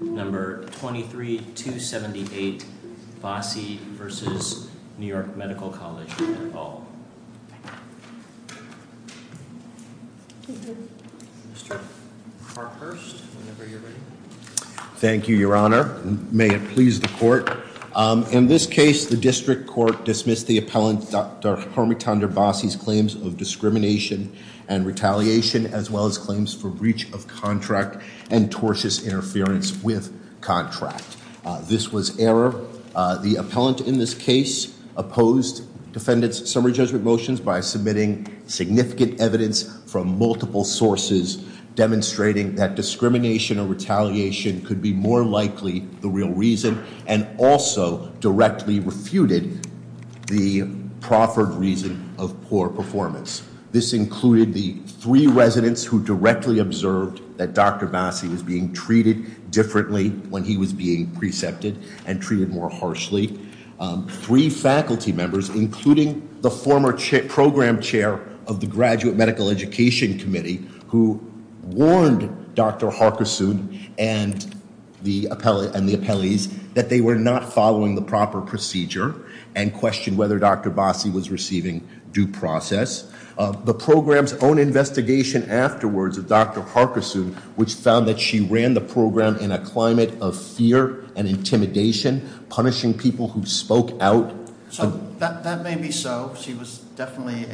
No. 23278, Vasi v. New York Medical College, et al. Mr. Carhurst, whenever you're ready. Thank you, Your Honor. May it please the Court. In this case, the District Court dismissed the appellant, Dr. Harmiton de Vasi's claims of discrimination and retaliation, as well as claims for breach of contract and tortious interference with contract. This was error. The appellant in this case opposed defendant's summary judgment motions by submitting significant evidence from multiple sources, demonstrating that discrimination or retaliation could be more likely the real reason, and also directly refuted the proffered reason of poor performance. This included the three residents who directly observed that Dr. Vasi was being treated differently when he was being precepted and treated more harshly. Three faculty members, including the former program chair of the Graduate Medical Education Committee, who warned Dr. Harkisoon and the appellees that they were not following the proper procedure, and questioned whether Dr. Vasi was receiving due process. The program's own investigation afterwards of Dr. Harkisoon, which found that she ran the program in a climate of fear and intimidation, punishing people who spoke out. So that may be so. She was definitely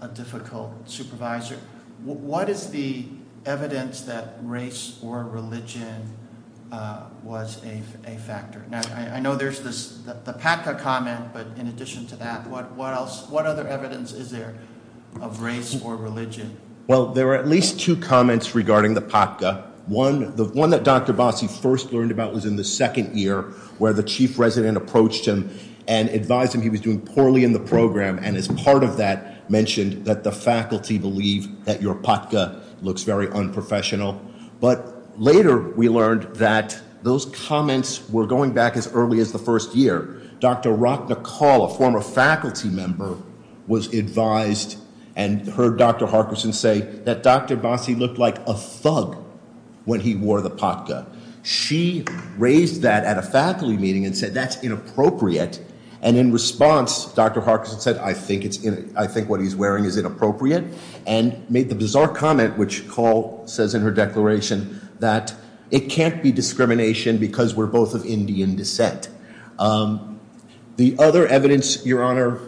a difficult supervisor. What is the evidence that race or religion was a factor? Now, I know there's this, the Patka comment, but in addition to that, what else, what other evidence is there of race or religion? Well, there are at least two comments regarding the Patka. One, the one that Dr. Vasi first learned about was in the second year where the chief resident approached him and advised him he was doing poorly in the program, and as part of that mentioned that the faculty believe that your Patka looks very unprofessional. But later we learned that those comments were going back as early as the first year. Dr. Rock McCall, a former faculty member, was advised and heard Dr. Harkisoon say that Dr. Vasi looked like a thug when he wore the Patka. She raised that at a faculty meeting and said that's inappropriate, and in response, Dr. Harkisoon said, I think what he's wearing is inappropriate, and made the bizarre comment, which McCall says in her declaration, that it can't be discrimination because we're both of Indian descent. The other evidence, Your Honor,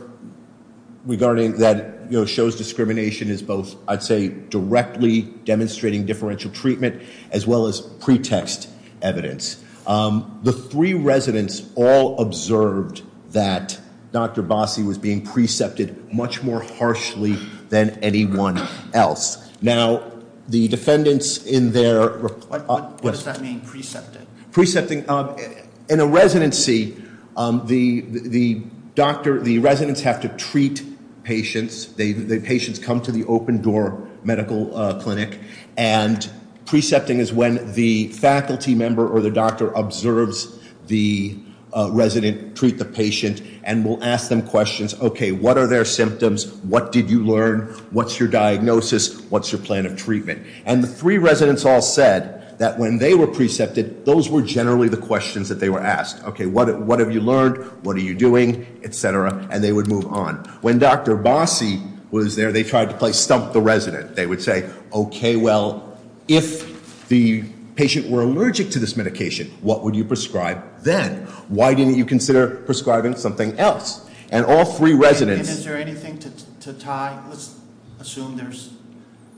regarding that shows discrimination is both, I'd say, directly demonstrating differential treatment as well as pretext evidence. The three residents all observed that Dr. Vasi was being precepted much more harshly than anyone else. Now, the defendants in their- What does that mean, precepted? Precepting, in a residency, the residents have to treat patients. The patients come to the open door medical clinic, and precepting is when the faculty member or the doctor observes the resident treat the patient and will ask them questions. Okay, what are their symptoms? What did you learn? What's your diagnosis? What's your plan of treatment? And the three residents all said that when they were precepted, those were generally the questions that they were asked. Okay, what have you learned? What are you doing? Et cetera, and they would move on. When Dr. Vasi was there, they tried to play stump the resident. They would say, okay, well, if the patient were allergic to this medication, what would you prescribe then? Why didn't you consider prescribing something else? And all three residents- Is there anything to tie? Let's assume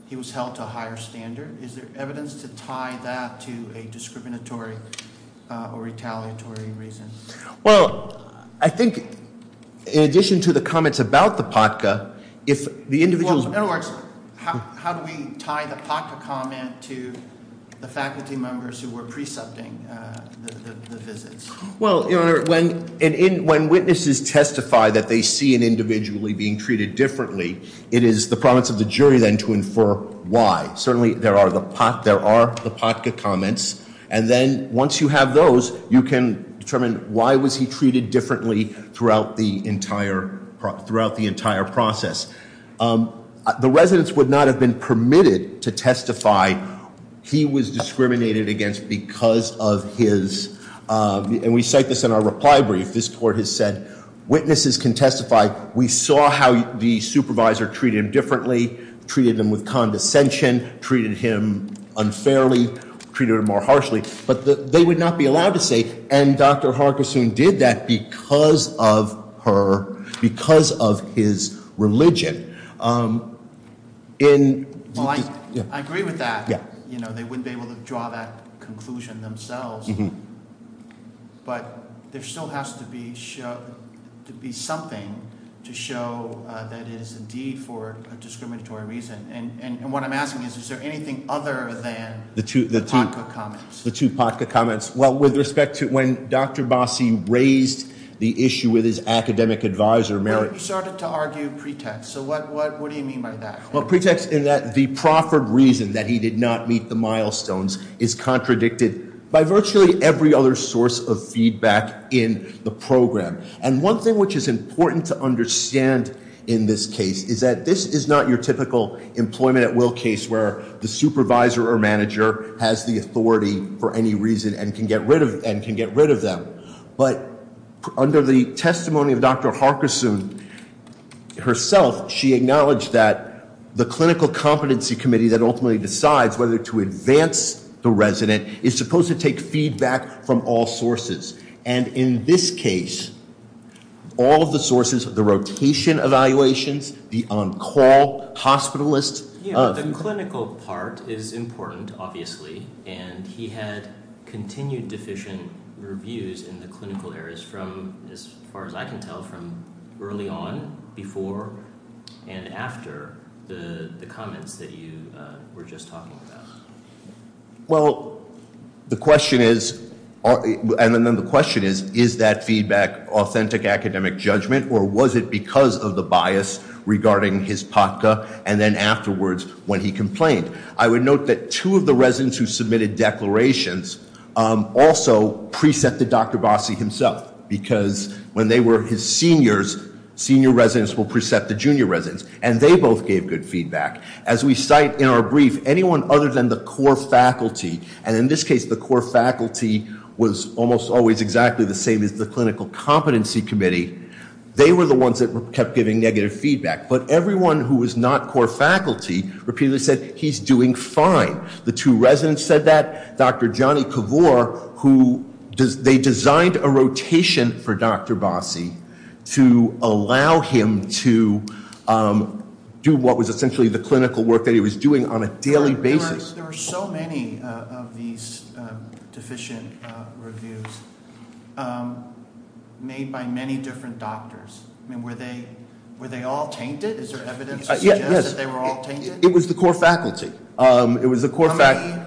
he was held to a higher standard. Is there evidence to tie that to a discriminatory or retaliatory reason? Well, I think in addition to the comments about the POTCA, if the individuals- In other words, how do we tie the POTCA comment to the faculty members who were precepting the visits? Well, Your Honor, when witnesses testify that they see an individual being treated differently, it is the promise of the jury then to infer why. Certainly, there are the POTCA comments. And then once you have those, you can determine why was he treated differently throughout the entire process. The residents would not have been permitted to testify. He was discriminated against because of his- And we cite this in our reply brief. This court has said, witnesses can testify, we saw how the supervisor treated him differently, treated him with condescension, treated him unfairly, treated him more harshly. But they would not be allowed to say, and Dr. Hargisoon did that because of her, because of his religion. Well, I agree with that. They wouldn't be able to draw that conclusion themselves. But there still has to be something to show that it is indeed for a discriminatory reason. And what I'm asking is, is there anything other than the two POTCA comments? The two POTCA comments. Well, with respect to when Dr. Bassi raised the issue with his academic advisor, Merritt- Well, he started to argue pretext. So what do you mean by that? Well, pretext in that the proffered reason that he did not meet the milestones is contradicted by virtually every other source of feedback in the program. And one thing which is important to understand in this case is that this is not your typical employment at will case where the supervisor or manager has the authority for any reason and can get rid of them. But under the testimony of Dr. Hargisoon herself, she acknowledged that the clinical competency committee that ultimately decides whether to advance the resident is supposed to take feedback from all sources. And in this case, all of the sources, the rotation evaluations, the on-call hospitalists- The clinical part is important, obviously, and he had continued deficient reviews in the clinical areas from, as far as I can tell, from early on, before, and after the comments that you were just talking about. Well, the question is, and then the question is, is that feedback authentic academic judgment or was it because of the bias regarding his POTCA and then afterwards when he complained? I would note that two of the residents who submitted declarations also preset the Dr. Bossie himself because when they were his seniors, senior residents will preset the junior residents, and they both gave good feedback. As we cite in our brief, anyone other than the core faculty, and in this case, the core they were the ones that kept giving negative feedback, but everyone who was not core faculty repeatedly said, he's doing fine. The two residents said that. Dr. Johnny Kavor, they designed a rotation for Dr. Bossie to allow him to do what was essentially the clinical work that he was doing on a daily basis. There were so many of these deficient reviews made by many different doctors. Were they all tainted? Is there evidence that they were all tainted? It was the core faculty. How many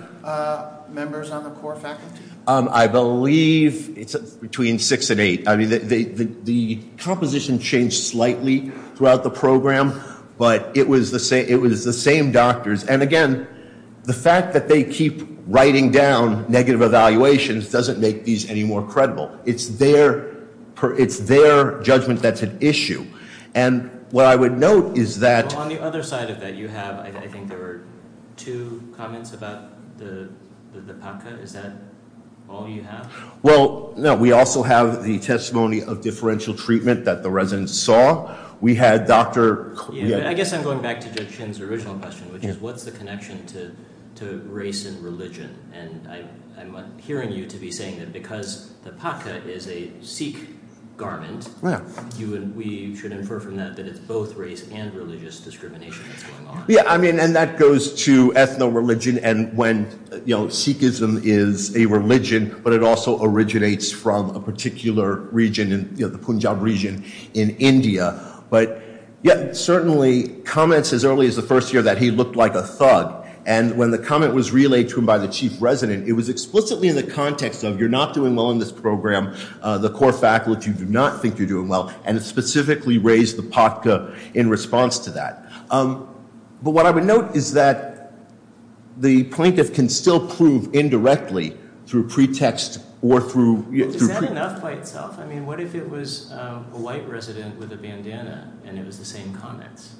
members on the core faculty? I believe it's between six and eight. The composition changed slightly throughout the program, but it was the same doctors. Again, the fact that they keep writing down negative evaluations doesn't make these any more credible. It's their judgment that's at issue. What I would note is that- On the other side of that, you have, I think there were two comments about the PACA. Is that all you have? Well, no. We also have the testimony of differential treatment that the residents saw. We had Dr.- I guess I'm going back to Dr. Chin's original question, which is what's the connection to race and religion? I'm hearing you to be saying that because the PACA is a Sikh garment, we should infer from that that it's both race and religious discrimination that's going on. Yeah. That goes to ethno-religion. Sikhism is a religion, but it also originates from a particular region, the Punjab region in India. But, yeah, certainly comments as early as the first year that he looked like a thug. And when the comment was relayed to him by the chief resident, it was explicitly in the context of you're not doing well in this program. The core faculty do not think you're doing well. And it specifically raised the PACA in response to that. But what I would note is that the plaintiff can still prove indirectly through pretext or through- Is that enough by itself? I mean, what if it was a white resident with a bandana and it was the same comments?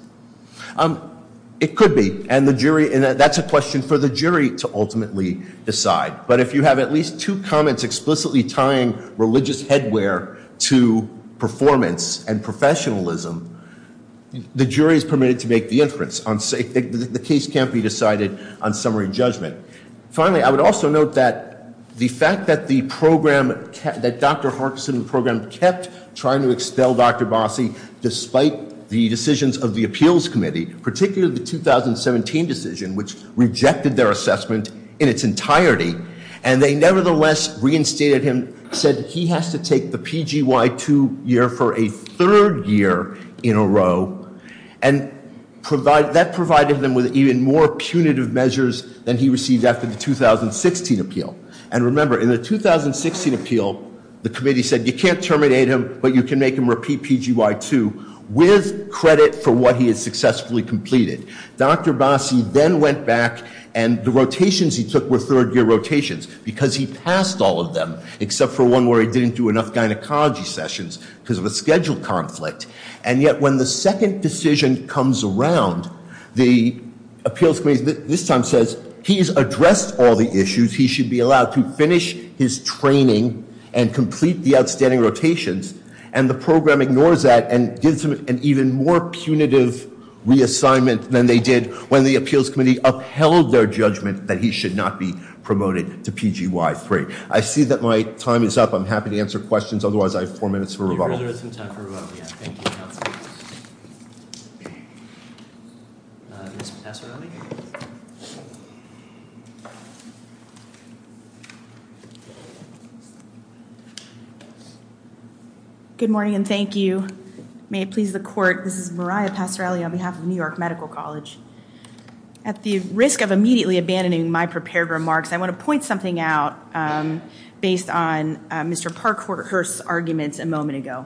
It could be. And that's a question for the jury to ultimately decide. But if you have at least two comments explicitly tying religious headwear to performance and professionalism, the jury is permitted to make the inference. The case can't be decided on summary judgment. Finally, I would also note that the fact that the program- That Dr. Harkison's program kept trying to expel Dr. Bossie despite the decisions of the appeals committee, particularly the 2017 decision, which rejected their assessment in its entirety. And they nevertheless reinstated him, said he has to take the PGY-2 year for a third year in a row. And that provided them with even more punitive measures than he received after the 2016 appeal. And remember, in the 2016 appeal, the committee said you can't terminate him, but you can make him repeat PGY-2 with credit for what he has successfully completed. Dr. Bossie then went back and the rotations he took were third year rotations because he passed all of them, except for one where he didn't do enough gynecology sessions because of a schedule conflict. And yet when the second decision comes around, the appeals committee this time says he's addressed all the issues, he should be allowed to finish his training and complete the outstanding rotations. And the program ignores that and gives him an even more punitive reassignment than they did when the appeals committee upheld their judgment that he should not be promoted to PGY-3. I see that my time is up. I'm happy to answer questions. Otherwise, I have four minutes for rebuttal. We'll reserve some time for rebuttal. Thank you, counsel. Ms. Passarelli? Good morning and thank you. May it please the court, this is Mariah Passarelli on behalf of New York Medical College. At the risk of immediately abandoning my prepared remarks, I want to point something out based on Mr. Parkhurst's arguments a moment ago.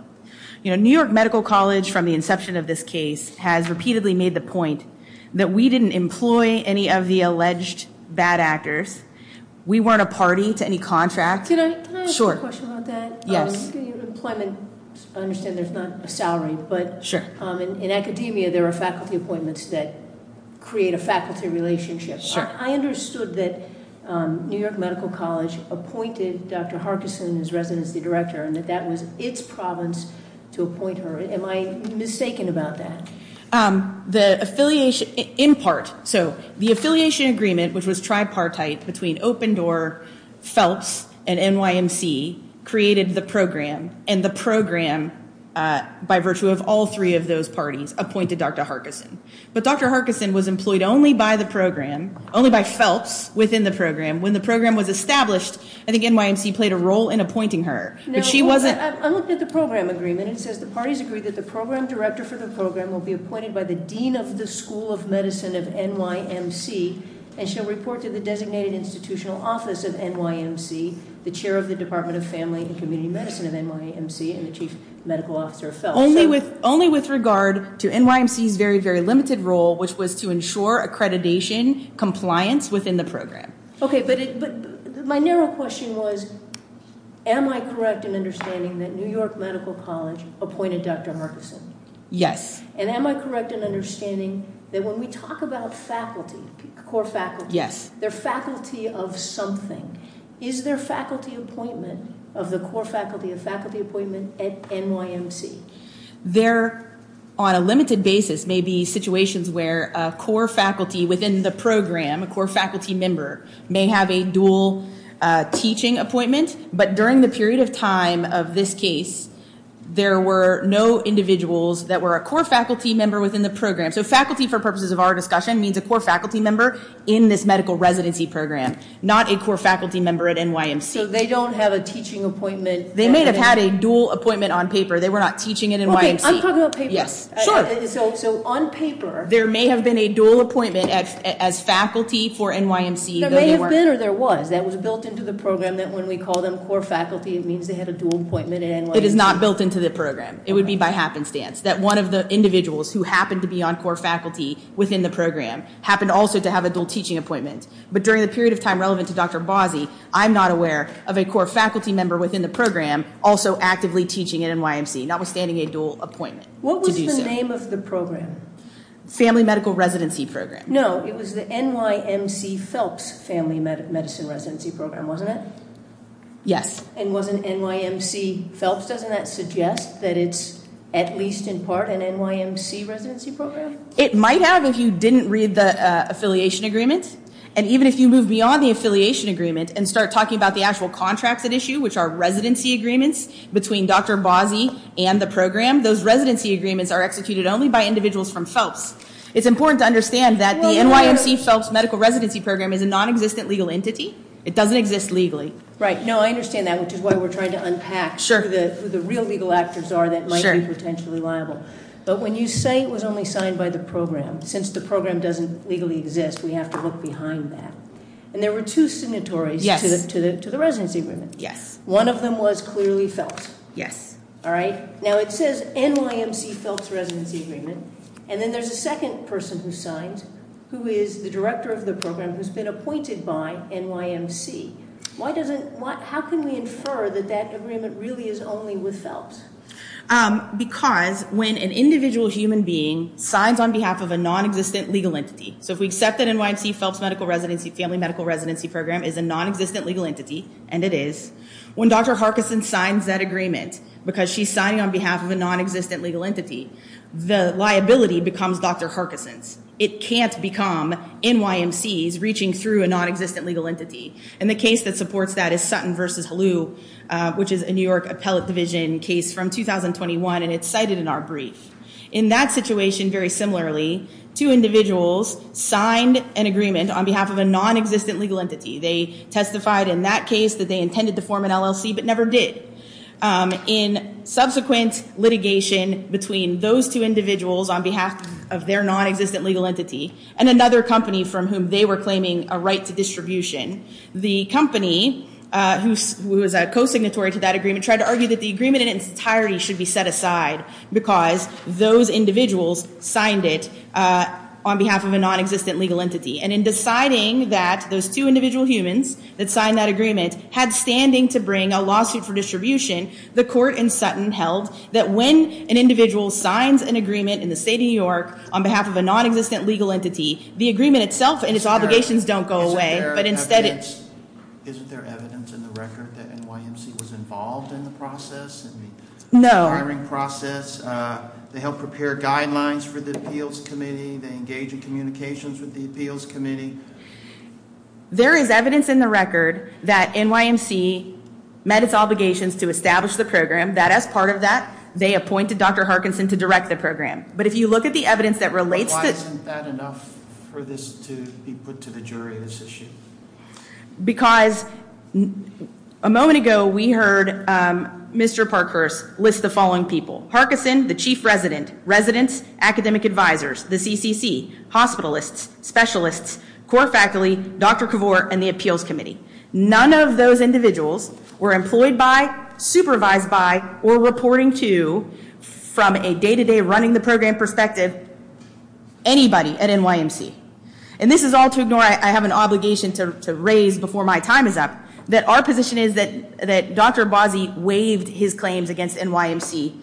You know, New York Medical College, from the inception of this case, has repeatedly made the point that we didn't employ any of the alleged bad actors. We weren't a party to any contract. Can I ask a question about that? Yes. I understand there's not a salary, but in academia there are faculty appointments that create a faculty relationship. I understood that New York Medical College appointed Dr. Harkison as residency director and that that was its province to appoint her. Am I mistaken about that? In part. So the affiliation agreement, which was tripartite between Opendoor, Phelps, and NYMC, created the program and the program, by virtue of all three of those parties, appointed Dr. Harkison. But Dr. Harkison was employed only by the program, only by Phelps within the program. When the program was established, I think NYMC played a role in appointing her. I looked at the program agreement. It says the parties agree that the program director for the program will be appointed by the dean of the School of Medicine of NYMC and shall report to the designated institutional office of NYMC, the chair of the Department of Family and Community Medicine of NYMC, and the chief medical officer of Phelps. Only with regard to NYMC's very, very limited role, which was to ensure accreditation compliance within the program. Okay, but my narrow question was, am I correct in understanding that New York Medical College appointed Dr. Harkison? Yes. And am I correct in understanding that when we talk about faculty, core faculty, they're faculty of something. Is there faculty appointment of the core faculty, a faculty appointment at NYMC? There, on a limited basis, may be situations where a core faculty within the program, a core faculty member, may have a dual teaching appointment. But during the period of time of this case, there were no individuals that were a core faculty member within the program. So faculty, for purposes of our discussion, means a core faculty member in this medical residency program, not a core faculty member at NYMC. So they don't have a teaching appointment? They may have had a dual appointment on paper. They were not teaching at NYMC. Okay, I'm talking about paper. Yes. So on paper. There may have been a dual appointment as faculty for NYMC. There may have been or there was. That was built into the program that when we call them core faculty, it means they had a dual appointment at NYMC. It is not built into the program. It would be by happenstance. That one of the individuals who happened to be on core faculty within the program happened also to have a dual teaching appointment. But during the period of time relevant to Dr. Bozzi, I'm not aware of a core faculty member within the program also actively teaching at NYMC, notwithstanding a dual appointment. What was the name of the program? Family Medical Residency Program. No, it was the NYMC Phelps Family Medicine Residency Program, wasn't it? Yes. And was it NYMC Phelps? Doesn't that suggest that it's at least in part an NYMC residency program? It might have if you didn't read the affiliation agreement. And even if you move beyond the affiliation agreement and start talking about the actual contracts at issue, which are residency agreements between Dr. Bozzi and the program, those residency agreements are executed only by individuals from Phelps. It's important to understand that the NYMC Phelps Medical Residency Program is a non-existent legal entity. It doesn't exist legally. Right. No, I understand that, which is why we're trying to unpack who the real legal actors are that might be potentially liable. But when you say it was only signed by the program, since the program doesn't legally exist, we have to look behind that. And there were two signatories to the residency agreement. Yes. One of them was clearly Phelps. Yes. All right? Now, it says NYMC Phelps Residency Agreement, and then there's a second person who signed who is the director of the program who's been appointed by NYMC. How can we infer that that agreement really is only with Phelps? Because when an individual human being signs on behalf of a non-existent legal entity, so if we accept that NYMC Phelps Family Medical Residency Program is a non-existent legal entity, and it is, when Dr. Harkison signs that agreement, because she's signing on behalf of a non-existent legal entity, the liability becomes Dr. Harkison's. It can't become NYMC's reaching through a non-existent legal entity. And the case that supports that is Sutton v. Halu, which is a New York appellate division case from 2021, and it's cited in our brief. In that situation, very similarly, two individuals signed an agreement on behalf of a non-existent legal entity. They testified in that case that they intended to form an LLC but never did. In subsequent litigation between those two individuals on behalf of their non-existent legal entity and another company from whom they were claiming a right to distribution, the company who was a co-signatory to that agreement tried to argue that the agreement in its entirety should be set aside because those individuals signed it on behalf of a non-existent legal entity. And in deciding that those two individual humans that signed that agreement had standing to bring a lawsuit for distribution, the court in Sutton held that when an individual signs an agreement in the state of New York on behalf of a non-existent legal entity, the agreement itself and its obligations don't go away, but instead it's- Isn't there evidence in the record that NYMC was involved in the process? No. The hiring process, they helped prepare guidelines for the appeals committee, they engaged in communications with the appeals committee. There is evidence in the record that NYMC met its obligations to establish the program, that as part of that, they appointed Dr. Harkinson to direct the program. But if you look at the evidence that relates to- Why isn't that enough for this to be put to the jury, this issue? Because a moment ago we heard Mr. Parkhurst list the following people. Harkinson, the chief resident, residents, academic advisors, the CCC, hospitalists, specialists, core faculty, Dr. Kavor, and the appeals committee. None of those individuals were employed by, supervised by, or reporting to from a day-to-day running the program perspective. Anybody at NYMC. And this is all to ignore, I have an obligation to raise before my time is up, that our position is that Dr. Abbasi waived his claims against NYMC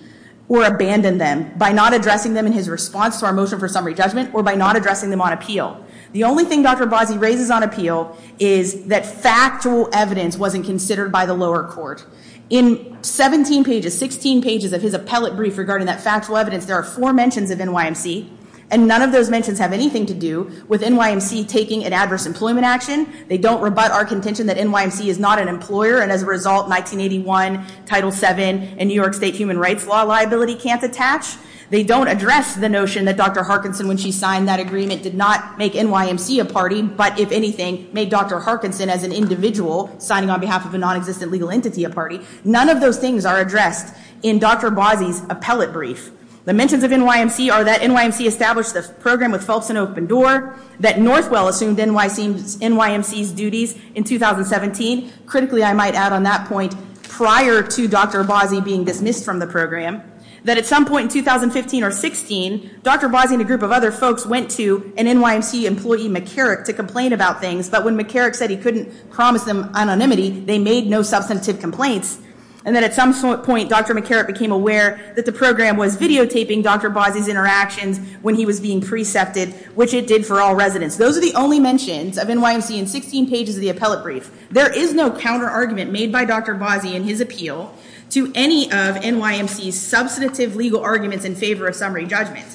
or abandoned them by not addressing them in his response to our motion for summary judgment or by not addressing them on appeal. The only thing Dr. Abbasi raises on appeal is that factual evidence wasn't considered by the lower court. In 17 pages, 16 pages of his appellate brief regarding that factual evidence, there are four mentions of NYMC, and none of those mentions have anything to do with NYMC taking an adverse employment action. They don't rebut our contention that NYMC is not an employer, and as a result 1981, Title VII, and New York State human rights law liability can't attach. They don't address the notion that Dr. Harkinson, when she signed that agreement, did not make NYMC a party, but if anything, made Dr. Harkinson as an individual signing on behalf of a non-existent legal entity a party, none of those things are addressed in Dr. Abbasi's appellate brief. The mentions of NYMC are that NYMC established the program with Phelps and Open Door, that Northwell assumed NYMC's duties in 2017, critically I might add on that point prior to Dr. Abbasi being dismissed from the program, that at some point in 2015 or 16, Dr. Abbasi and a group of other folks went to an NYMC employee, McCarrick, to complain about things, but when McCarrick said he couldn't promise them anonymity, they made no substantive complaints, and then at some point Dr. McCarrick became aware that the program was videotaping Dr. Abbasi's interactions when he was being precepted, which it did for all residents. Those are the only mentions of NYMC in 16 pages of the appellate brief. There is no counter-argument made by Dr. Abbasi in his appeal to any of NYMC's substantive legal arguments in favor of summary judgment,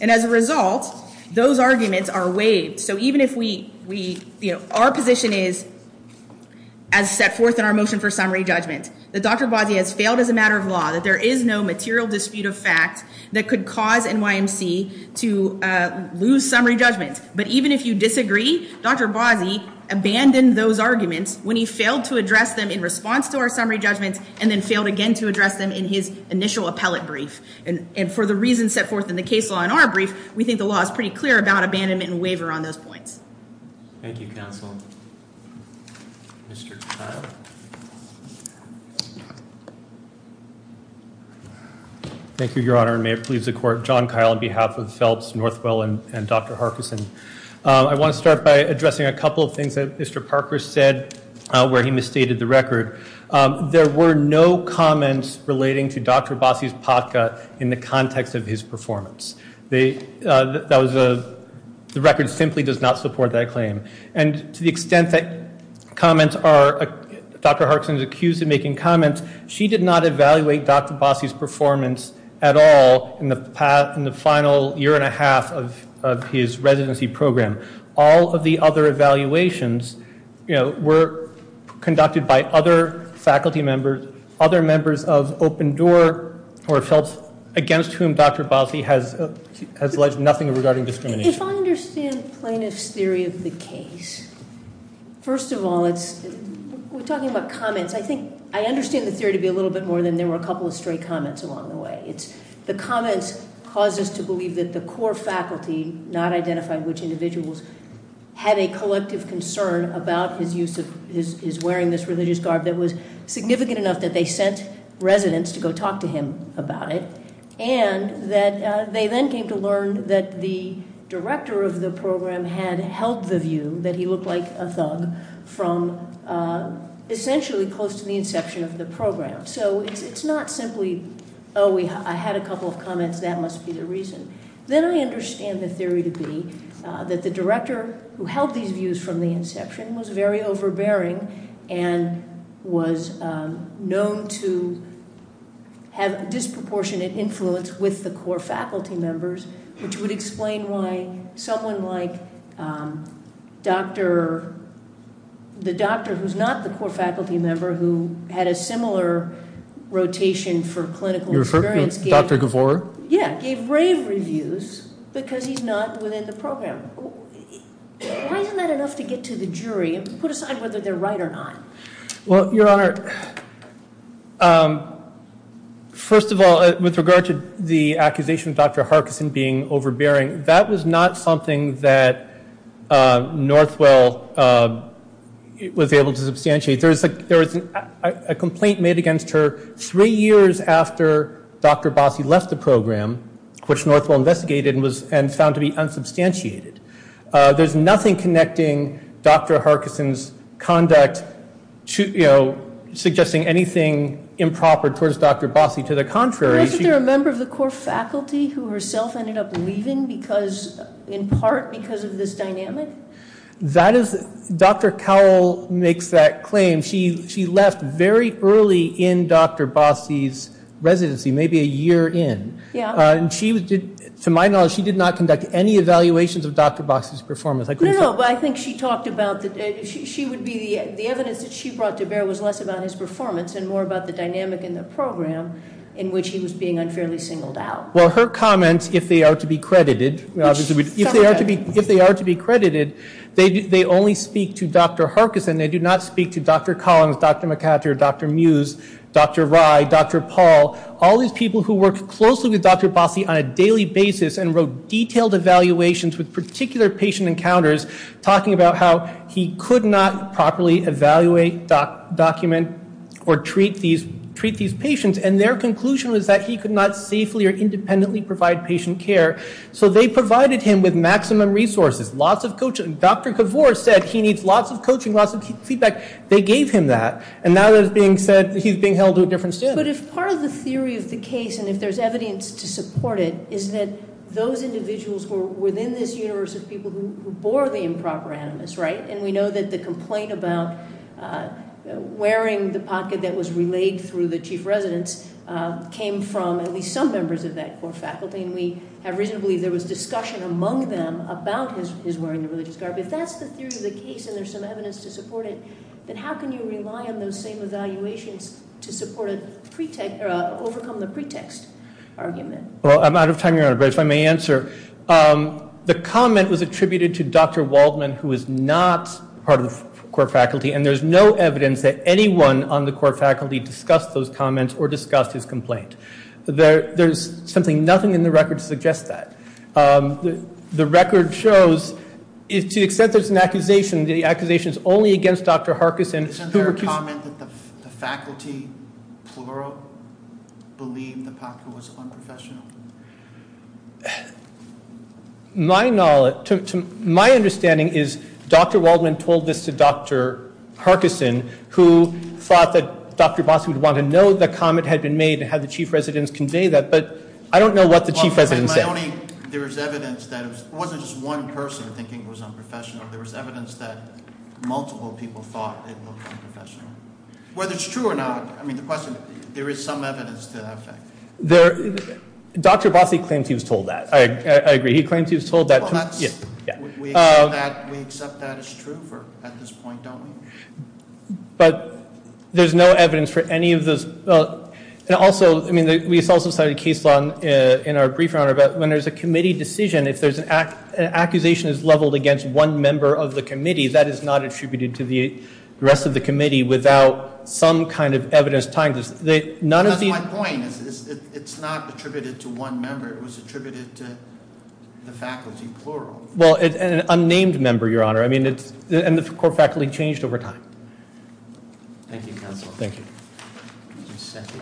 and as a result, those arguments are waived. So even if we, you know, our position is, as set forth in our motion for summary judgment, that Dr. Abbasi has failed as a matter of law, that there is no material dispute of fact that could cause NYMC to lose summary judgment, but even if you disagree, Dr. Abbasi abandoned those arguments when he failed to address them in response to our summary judgments and then failed again to address them in his initial appellate brief. And for the reasons set forth in the case law in our brief, we think the law is pretty clear about abandonment and waiver on those points. Thank you, Counsel. Mr. Kyle. Thank you, Your Honor, and may it please the Court, John Kyle on behalf of Phelps, Northwell, and Dr. Harkison. I want to start by addressing a couple of things that Mr. Parker said where he misstated the record. There were no comments relating to Dr. Abbasi's potka in the context of his performance. The record simply does not support that claim. And to the extent that Dr. Harkison is accused of making comments, she did not evaluate Dr. Abbasi's performance at all in the final year and a half of his residency program. All of the other evaluations were conducted by other faculty members, other members of Open Door or Phelps, against whom Dr. Abbasi has alleged nothing regarding discrimination. If I understand plaintiff's theory of the case, first of all, we're talking about comments. I think I understand the theory to be a little bit more than there were a couple of straight comments along the way. The comments caused us to believe that the core faculty not identified which individuals had a collective concern about his wearing this religious garb that was significant enough that they sent residents to go talk to him about it, and that they then came to learn that the director of the program had held the view that he looked like a thug from essentially close to the inception of the program. So it's not simply, oh, I had a couple of comments, that must be the reason. Then I understand the theory to be that the director who held these views from the inception was very overbearing and was known to have disproportionate influence with the core faculty members, which would explain why someone like the doctor who's not the core faculty member who had a similar rotation for clinical experience- You're referring to Dr. Gavur? Yeah, gave rave reviews because he's not within the program. Why isn't that enough to get to the jury and put aside whether they're right or not? Well, Your Honor, first of all, with regard to the accusation of Dr. Harkison being overbearing, that was not something that Northwell was able to substantiate. There was a complaint made against her three years after Dr. Bossi left the program, which Northwell investigated and found to be unsubstantiated. There's nothing connecting Dr. Harkison's conduct to suggesting anything improper towards Dr. Bossi. To the contrary, she- Wasn't there a member of the core faculty who herself ended up leaving in part because of this dynamic? That is- Dr. Cowell makes that claim. She left very early in Dr. Bossi's residency, maybe a year in. To my knowledge, she did not conduct any evaluations of Dr. Bossi's performance. No, no, but I think she talked about- the evidence that she brought to bear was less about his performance and more about the dynamic in the program in which he was being unfairly singled out. Well, her comments, if they are to be credited, they only speak to Dr. Harkison. They do not speak to Dr. Collins, Dr. McHatter, Dr. Mews, Dr. Rye, Dr. Paul, all these people who worked closely with Dr. Bossi on a daily basis and wrote detailed evaluations with particular patient encounters, talking about how he could not properly evaluate, document, or treat these patients, and their conclusion was that he could not safely or independently provide patient care. So they provided him with maximum resources, lots of coaching. Dr. Kavor said he needs lots of coaching, lots of feedback. They gave him that, and now he's being held to a different standard. But if part of the theory of the case, and if there's evidence to support it, is that those individuals were within this universe of people who bore the improper animus, right? And we know that the complaint about wearing the pocket that was relayed through the chief residence came from at least some members of that core faculty, and we have reason to believe there was discussion among them about his wearing the religious garb. If that's the theory of the case and there's some evidence to support it, then how can you rely on those same evaluations to overcome the pretext argument? Well, I'm out of time, Your Honor, but if I may answer, the comment was attributed to Dr. Waldman, who is not part of the core faculty, and there's no evidence that anyone on the core faculty discussed those comments or discussed his complaint. There's simply nothing in the record to suggest that. The record shows, to the extent there's an accusation, the accusation is only against Dr. Harkison. Isn't there a comment that the faculty, plural, believed the pocket was unprofessional? My understanding is Dr. Waldman told this to Dr. Harkison, who thought that Dr. Bosco would want to know the comment had been made and had the chief residence convey that, but I don't know what the chief residence said. There was evidence that it wasn't just one person thinking it was unprofessional. There was evidence that multiple people thought it looked unprofessional. Whether it's true or not, I mean, the question, there is some evidence to that effect. Dr. Bosco claims he was told that. I agree. He claims he was told that. We accept that as true at this point, don't we? But there's no evidence for any of those. And also, I mean, we also cited a case law in our brief, Your Honor, when there's a committee decision, if an accusation is leveled against one member of the committee, that is not attributed to the rest of the committee without some kind of evidence tying this. That's my point. It's not attributed to one member. It was attributed to the faculty, plural. Well, an unnamed member, Your Honor, and the core faculty changed over time. Thank you, Counsel. Thank you. Ms. Sethi.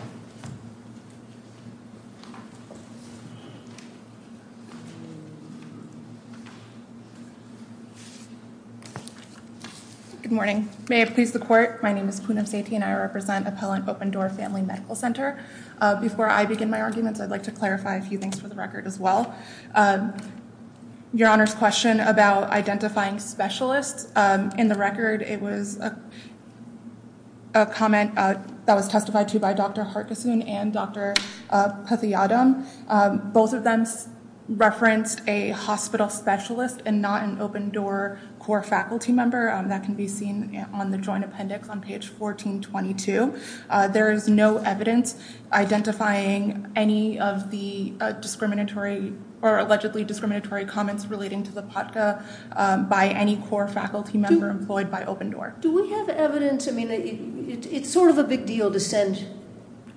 Good morning. May it please the court, my name is Poonam Sethi and I represent Appellant Open Door Family Medical Center. Before I begin my arguments, I'd like to clarify a few things for the record as well. Your Honor's question about identifying specialists. In the record, it was a comment that was testified to by Dr. Harkisun and Dr. Pathyadam. Both of them referenced a hospital specialist and not an open door core faculty member. That can be seen on the joint appendix on page 1422. There is no evidence identifying any of the discriminatory or allegedly discriminatory comments relating to the podcast by any core faculty member employed by Open Door. Do we have evidence? I mean, it's sort of a big deal to send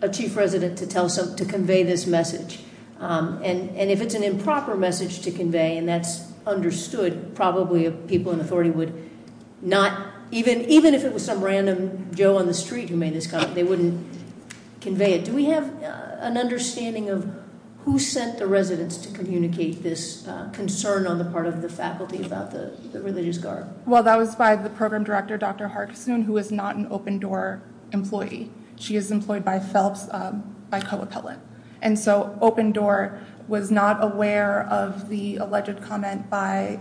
a chief resident to convey this message. And if it's an improper message to convey and that's understood, probably people in authority would not, even if it was some random Joe on the street who made this comment, they wouldn't convey it. Do we have an understanding of who sent the residents to communicate this concern on the part of the faculty about the religious guard? Well, that was by the program director, Dr. Harkisun, who is not an open door employee. She is employed by Phelps, by co-appellant. And so Open Door was not aware of the alleged comment by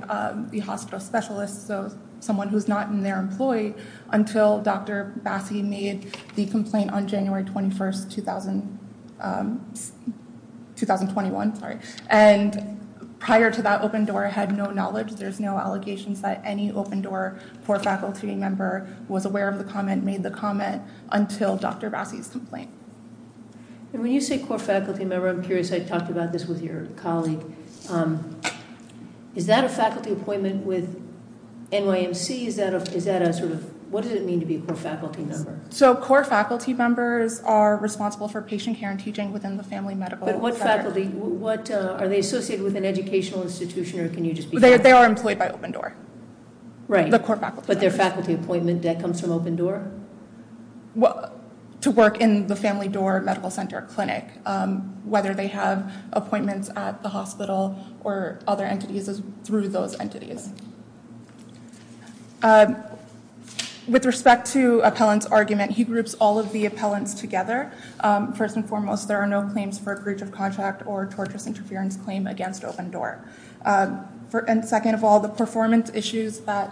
the hospital specialist, so someone who's not in their employee until Dr. Bassi made the complaint on January 21st, 2021. And prior to that, Open Door had no knowledge. There's no allegations that any Open Door core faculty member was aware of the comment, made the comment until Dr. Bassi's complaint. When you say core faculty member, I'm curious. I talked about this with your colleague. Is that a faculty appointment with NYMC? Is that a sort of, what does it mean to be a core faculty member? So core faculty members are responsible for patient care and teaching within the family medical center. But what faculty, what, are they associated with an educational institution or can you just be fair? They are employed by Open Door. Right. The core faculty. But their faculty appointment, that comes from Open Door? Well, to work in the family door medical center clinic, whether they have appointments at the hospital or other entities through those entities. With respect to appellant's argument, he groups all of the appellants together. First and foremost, there are no claims for breach of contract or torturous interference claim against Open Door. And second of all, the performance issues that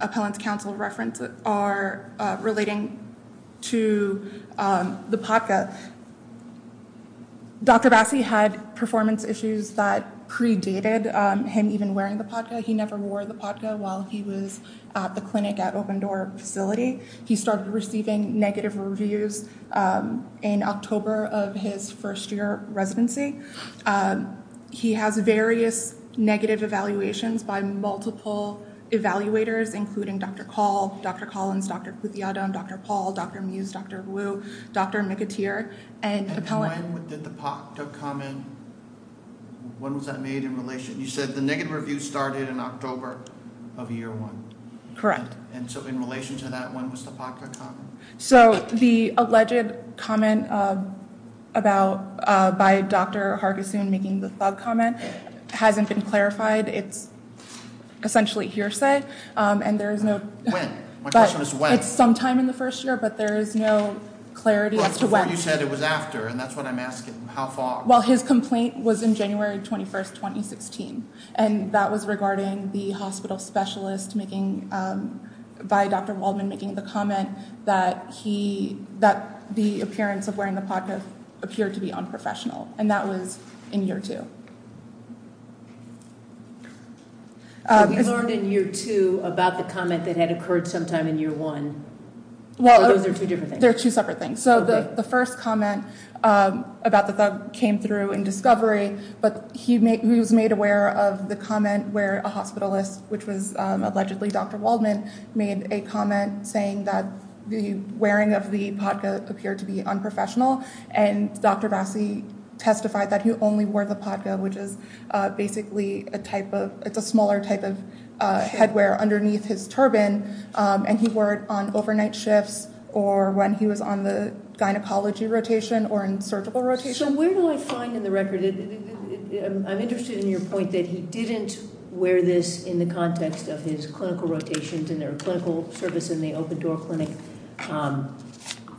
appellant's counsel referenced are relating to the podcast. Dr. Bassi had performance issues that predated him even wearing the podcast. He never wore the podcast while he was at the clinic at Open Door facility. He started receiving negative reviews in October of his first year residency. He has various negative evaluations by multiple evaluators, including Dr. Call, Dr. Collins, Dr. Cuthiata, Dr. Paul, Dr. Muse, Dr. Wu, Dr. McAteer, and appellant. When did the podcast comment, when was that made in relation, you said the negative review started in October of year one. Correct. And so in relation to that, when was the podcast comment? So the alleged comment by Dr. Hargisoon making the thug comment hasn't been clarified. It's essentially hearsay. When? My question is when. It's sometime in the first year, but there is no clarity as to when. Well, that's before you said it was after, and that's what I'm asking. How far? Well, his complaint was in January 21st, 2016. And that was regarding the hospital specialist making, by Dr. Waldman making the comment that he, that the appearance of wearing the podcast appeared to be unprofessional. And that was in year two. Have you learned in year two about the comment that had occurred sometime in year one? Those are two different things. They're two separate things. So the first comment about the thug came through in discovery, but he was made aware of the comment where a hospitalist, which was allegedly Dr. Waldman, made a comment saying that the wearing of the podcast appeared to be unprofessional. And Dr. Bassi testified that he only wore the podcast, which is basically a type of, it's a smaller type of headwear underneath his turban. And he wore it on overnight shifts or when he was on the gynecology rotation or in surgical rotation. So where do I find in the record, I'm interested in your point that he didn't wear this in the context of his clinical rotations and their clinical service in the open door clinic.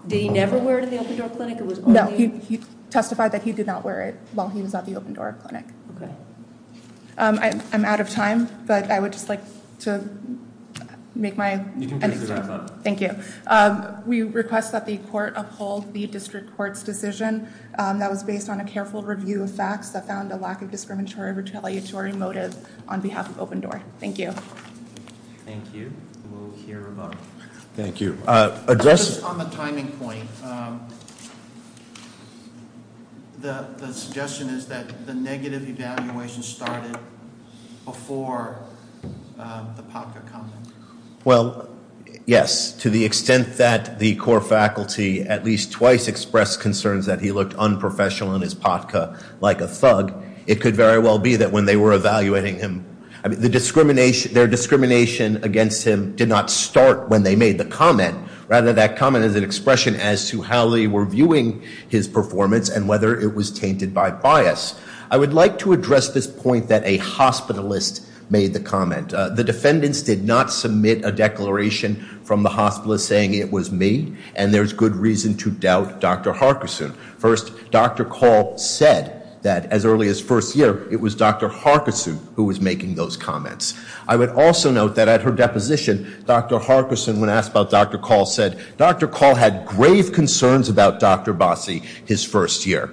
Did he never wear it in the open door clinic? No, he testified that he did not wear it while he was at the open door clinic. I'm out of time, but I would just like to make my. Thank you. We request that the court uphold the district court's decision that was based on a careful review of facts that found a lack of discriminatory retaliatory motive on behalf of open door. Thank you. Thank you. We'll hear about it. Thank you. Just on the timing point, the suggestion is that the negative evaluation started before the podcast comment. Well, yes, to the extent that the core faculty at least twice expressed concerns that he looked unprofessional in his podcast like a thug. It could very well be that when they were evaluating him, their discrimination against him did not start when they made the comment. Rather, that comment is an expression as to how they were viewing his performance and whether it was tainted by bias. I would like to address this point that a hospitalist made the comment. The defendants did not submit a declaration from the hospitalist saying it was me, and there's good reason to doubt Dr. Harkison. First, Dr. Call said that as early as first year, it was Dr. Harkison who was making those comments. I would also note that at her deposition, Dr. Harkison, when asked about Dr. Call, said Dr. Call had grave concerns about Dr. Bossi his first year.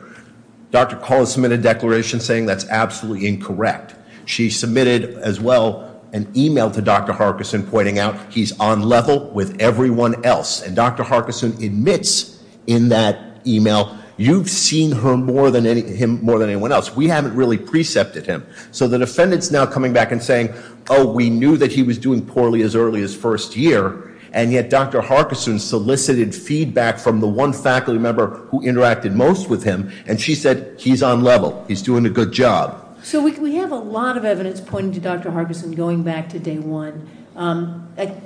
Dr. Call has submitted a declaration saying that's absolutely incorrect. She submitted as well an email to Dr. Harkison pointing out he's on level with everyone else. And Dr. Harkison admits in that email, you've seen him more than anyone else. We haven't really precepted him. So the defendant's now coming back and saying, oh, we knew that he was doing poorly as early as first year, and yet Dr. Harkison solicited feedback from the one faculty member who interacted most with him, and she said he's on level. He's doing a good job. So we have a lot of evidence pointing to Dr. Harkison going back to day one.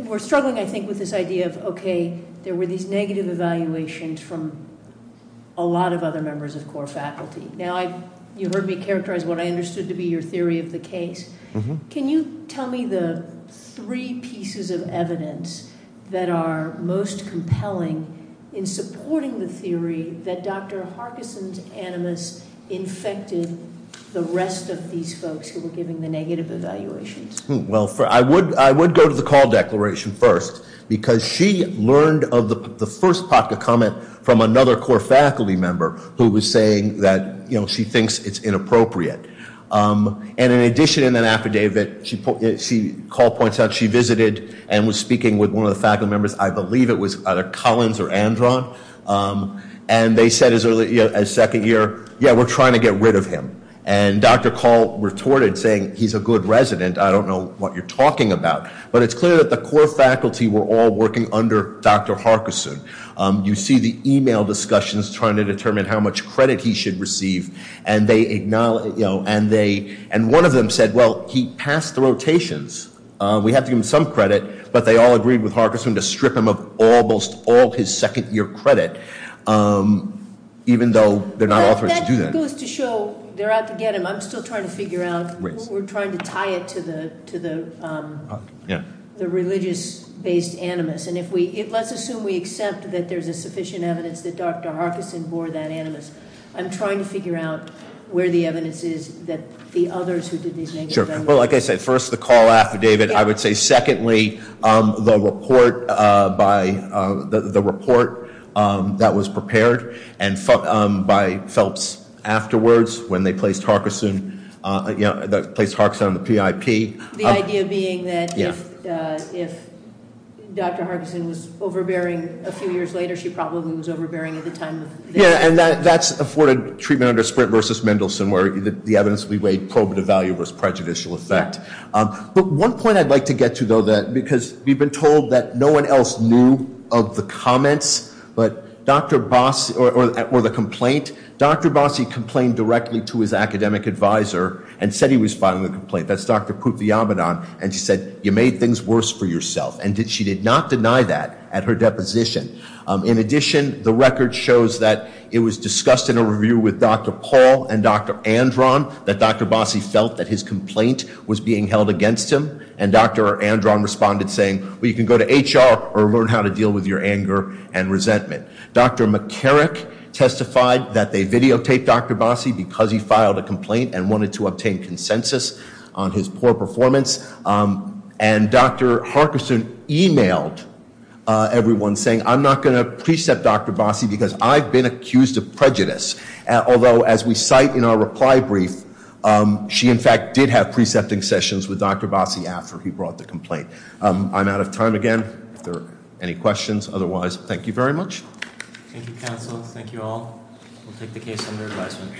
We're struggling, I think, with this idea of, okay, there were these negative evaluations from a lot of other members of core faculty. Now, you heard me characterize what I understood to be your theory of the case. Can you tell me the three pieces of evidence that are most compelling in supporting the theory that Dr. Harkison's animus infected the rest of these folks who were giving the negative evaluations? Well, I would go to the Call declaration first, because she learned of the first POTCA comment from another core faculty member who was saying that she thinks it's inappropriate. And in addition, in that affidavit, Call points out she visited and was speaking with one of the faculty members. I believe it was either Collins or Andron. And they said as early as second year, yeah, we're trying to get rid of him. And Dr. Call retorted, saying, he's a good resident. I don't know what you're talking about. But it's clear that the core faculty were all working under Dr. Harkison. You see the email discussions trying to determine how much credit he should receive. And one of them said, well, he passed the rotations. We have to give him some credit. But they all agreed with Harkison to strip him of almost all his second year credit, even though they're not authorized to do that. It goes to show, they're out to get him. I'm still trying to figure out, we're trying to tie it to the religious-based animus. And let's assume we accept that there's a sufficient evidence that Dr. Harkison bore that animus. I'm trying to figure out where the evidence is that the others who did these negative- Sure. Well, like I said, first, the call affidavit. I would say, secondly, the report that was prepared by Phelps afterwards, when they placed Harkison on the PIP. The idea being that if Dr. Harkison was overbearing a few years later, she probably was overbearing at the time. Yeah, and that's afforded treatment under Sprint versus Mendelsohn, where the evidence we weighed probative value versus prejudicial effect. But one point I'd like to get to, though, because we've been told that no one else knew of the comments or the complaint. Dr. Bossie complained directly to his academic advisor and said he was filing the complaint. That's Dr. Puthiyamadon. And she said, you made things worse for yourself. And she did not deny that at her deposition. In addition, the record shows that it was discussed in a review with Dr. Paul and Dr. Andron that Dr. Bossie felt that his complaint was being held against him. And Dr. Andron responded saying, well, you can go to HR or learn how to deal with your anger and resentment. Dr. McCarrick testified that they videotaped Dr. Bossie because he filed a complaint and wanted to obtain consensus on his poor performance. And Dr. Harkison emailed everyone saying, I'm not going to precept Dr. Bossie because I've been accused of prejudice. Although, as we cite in our reply brief, she, in fact, did have precepting sessions with Dr. Bossie after he brought the complaint. I'm out of time again. If there are any questions otherwise, thank you very much. Thank you, counsel. Thank you all. We'll take the case under advisement.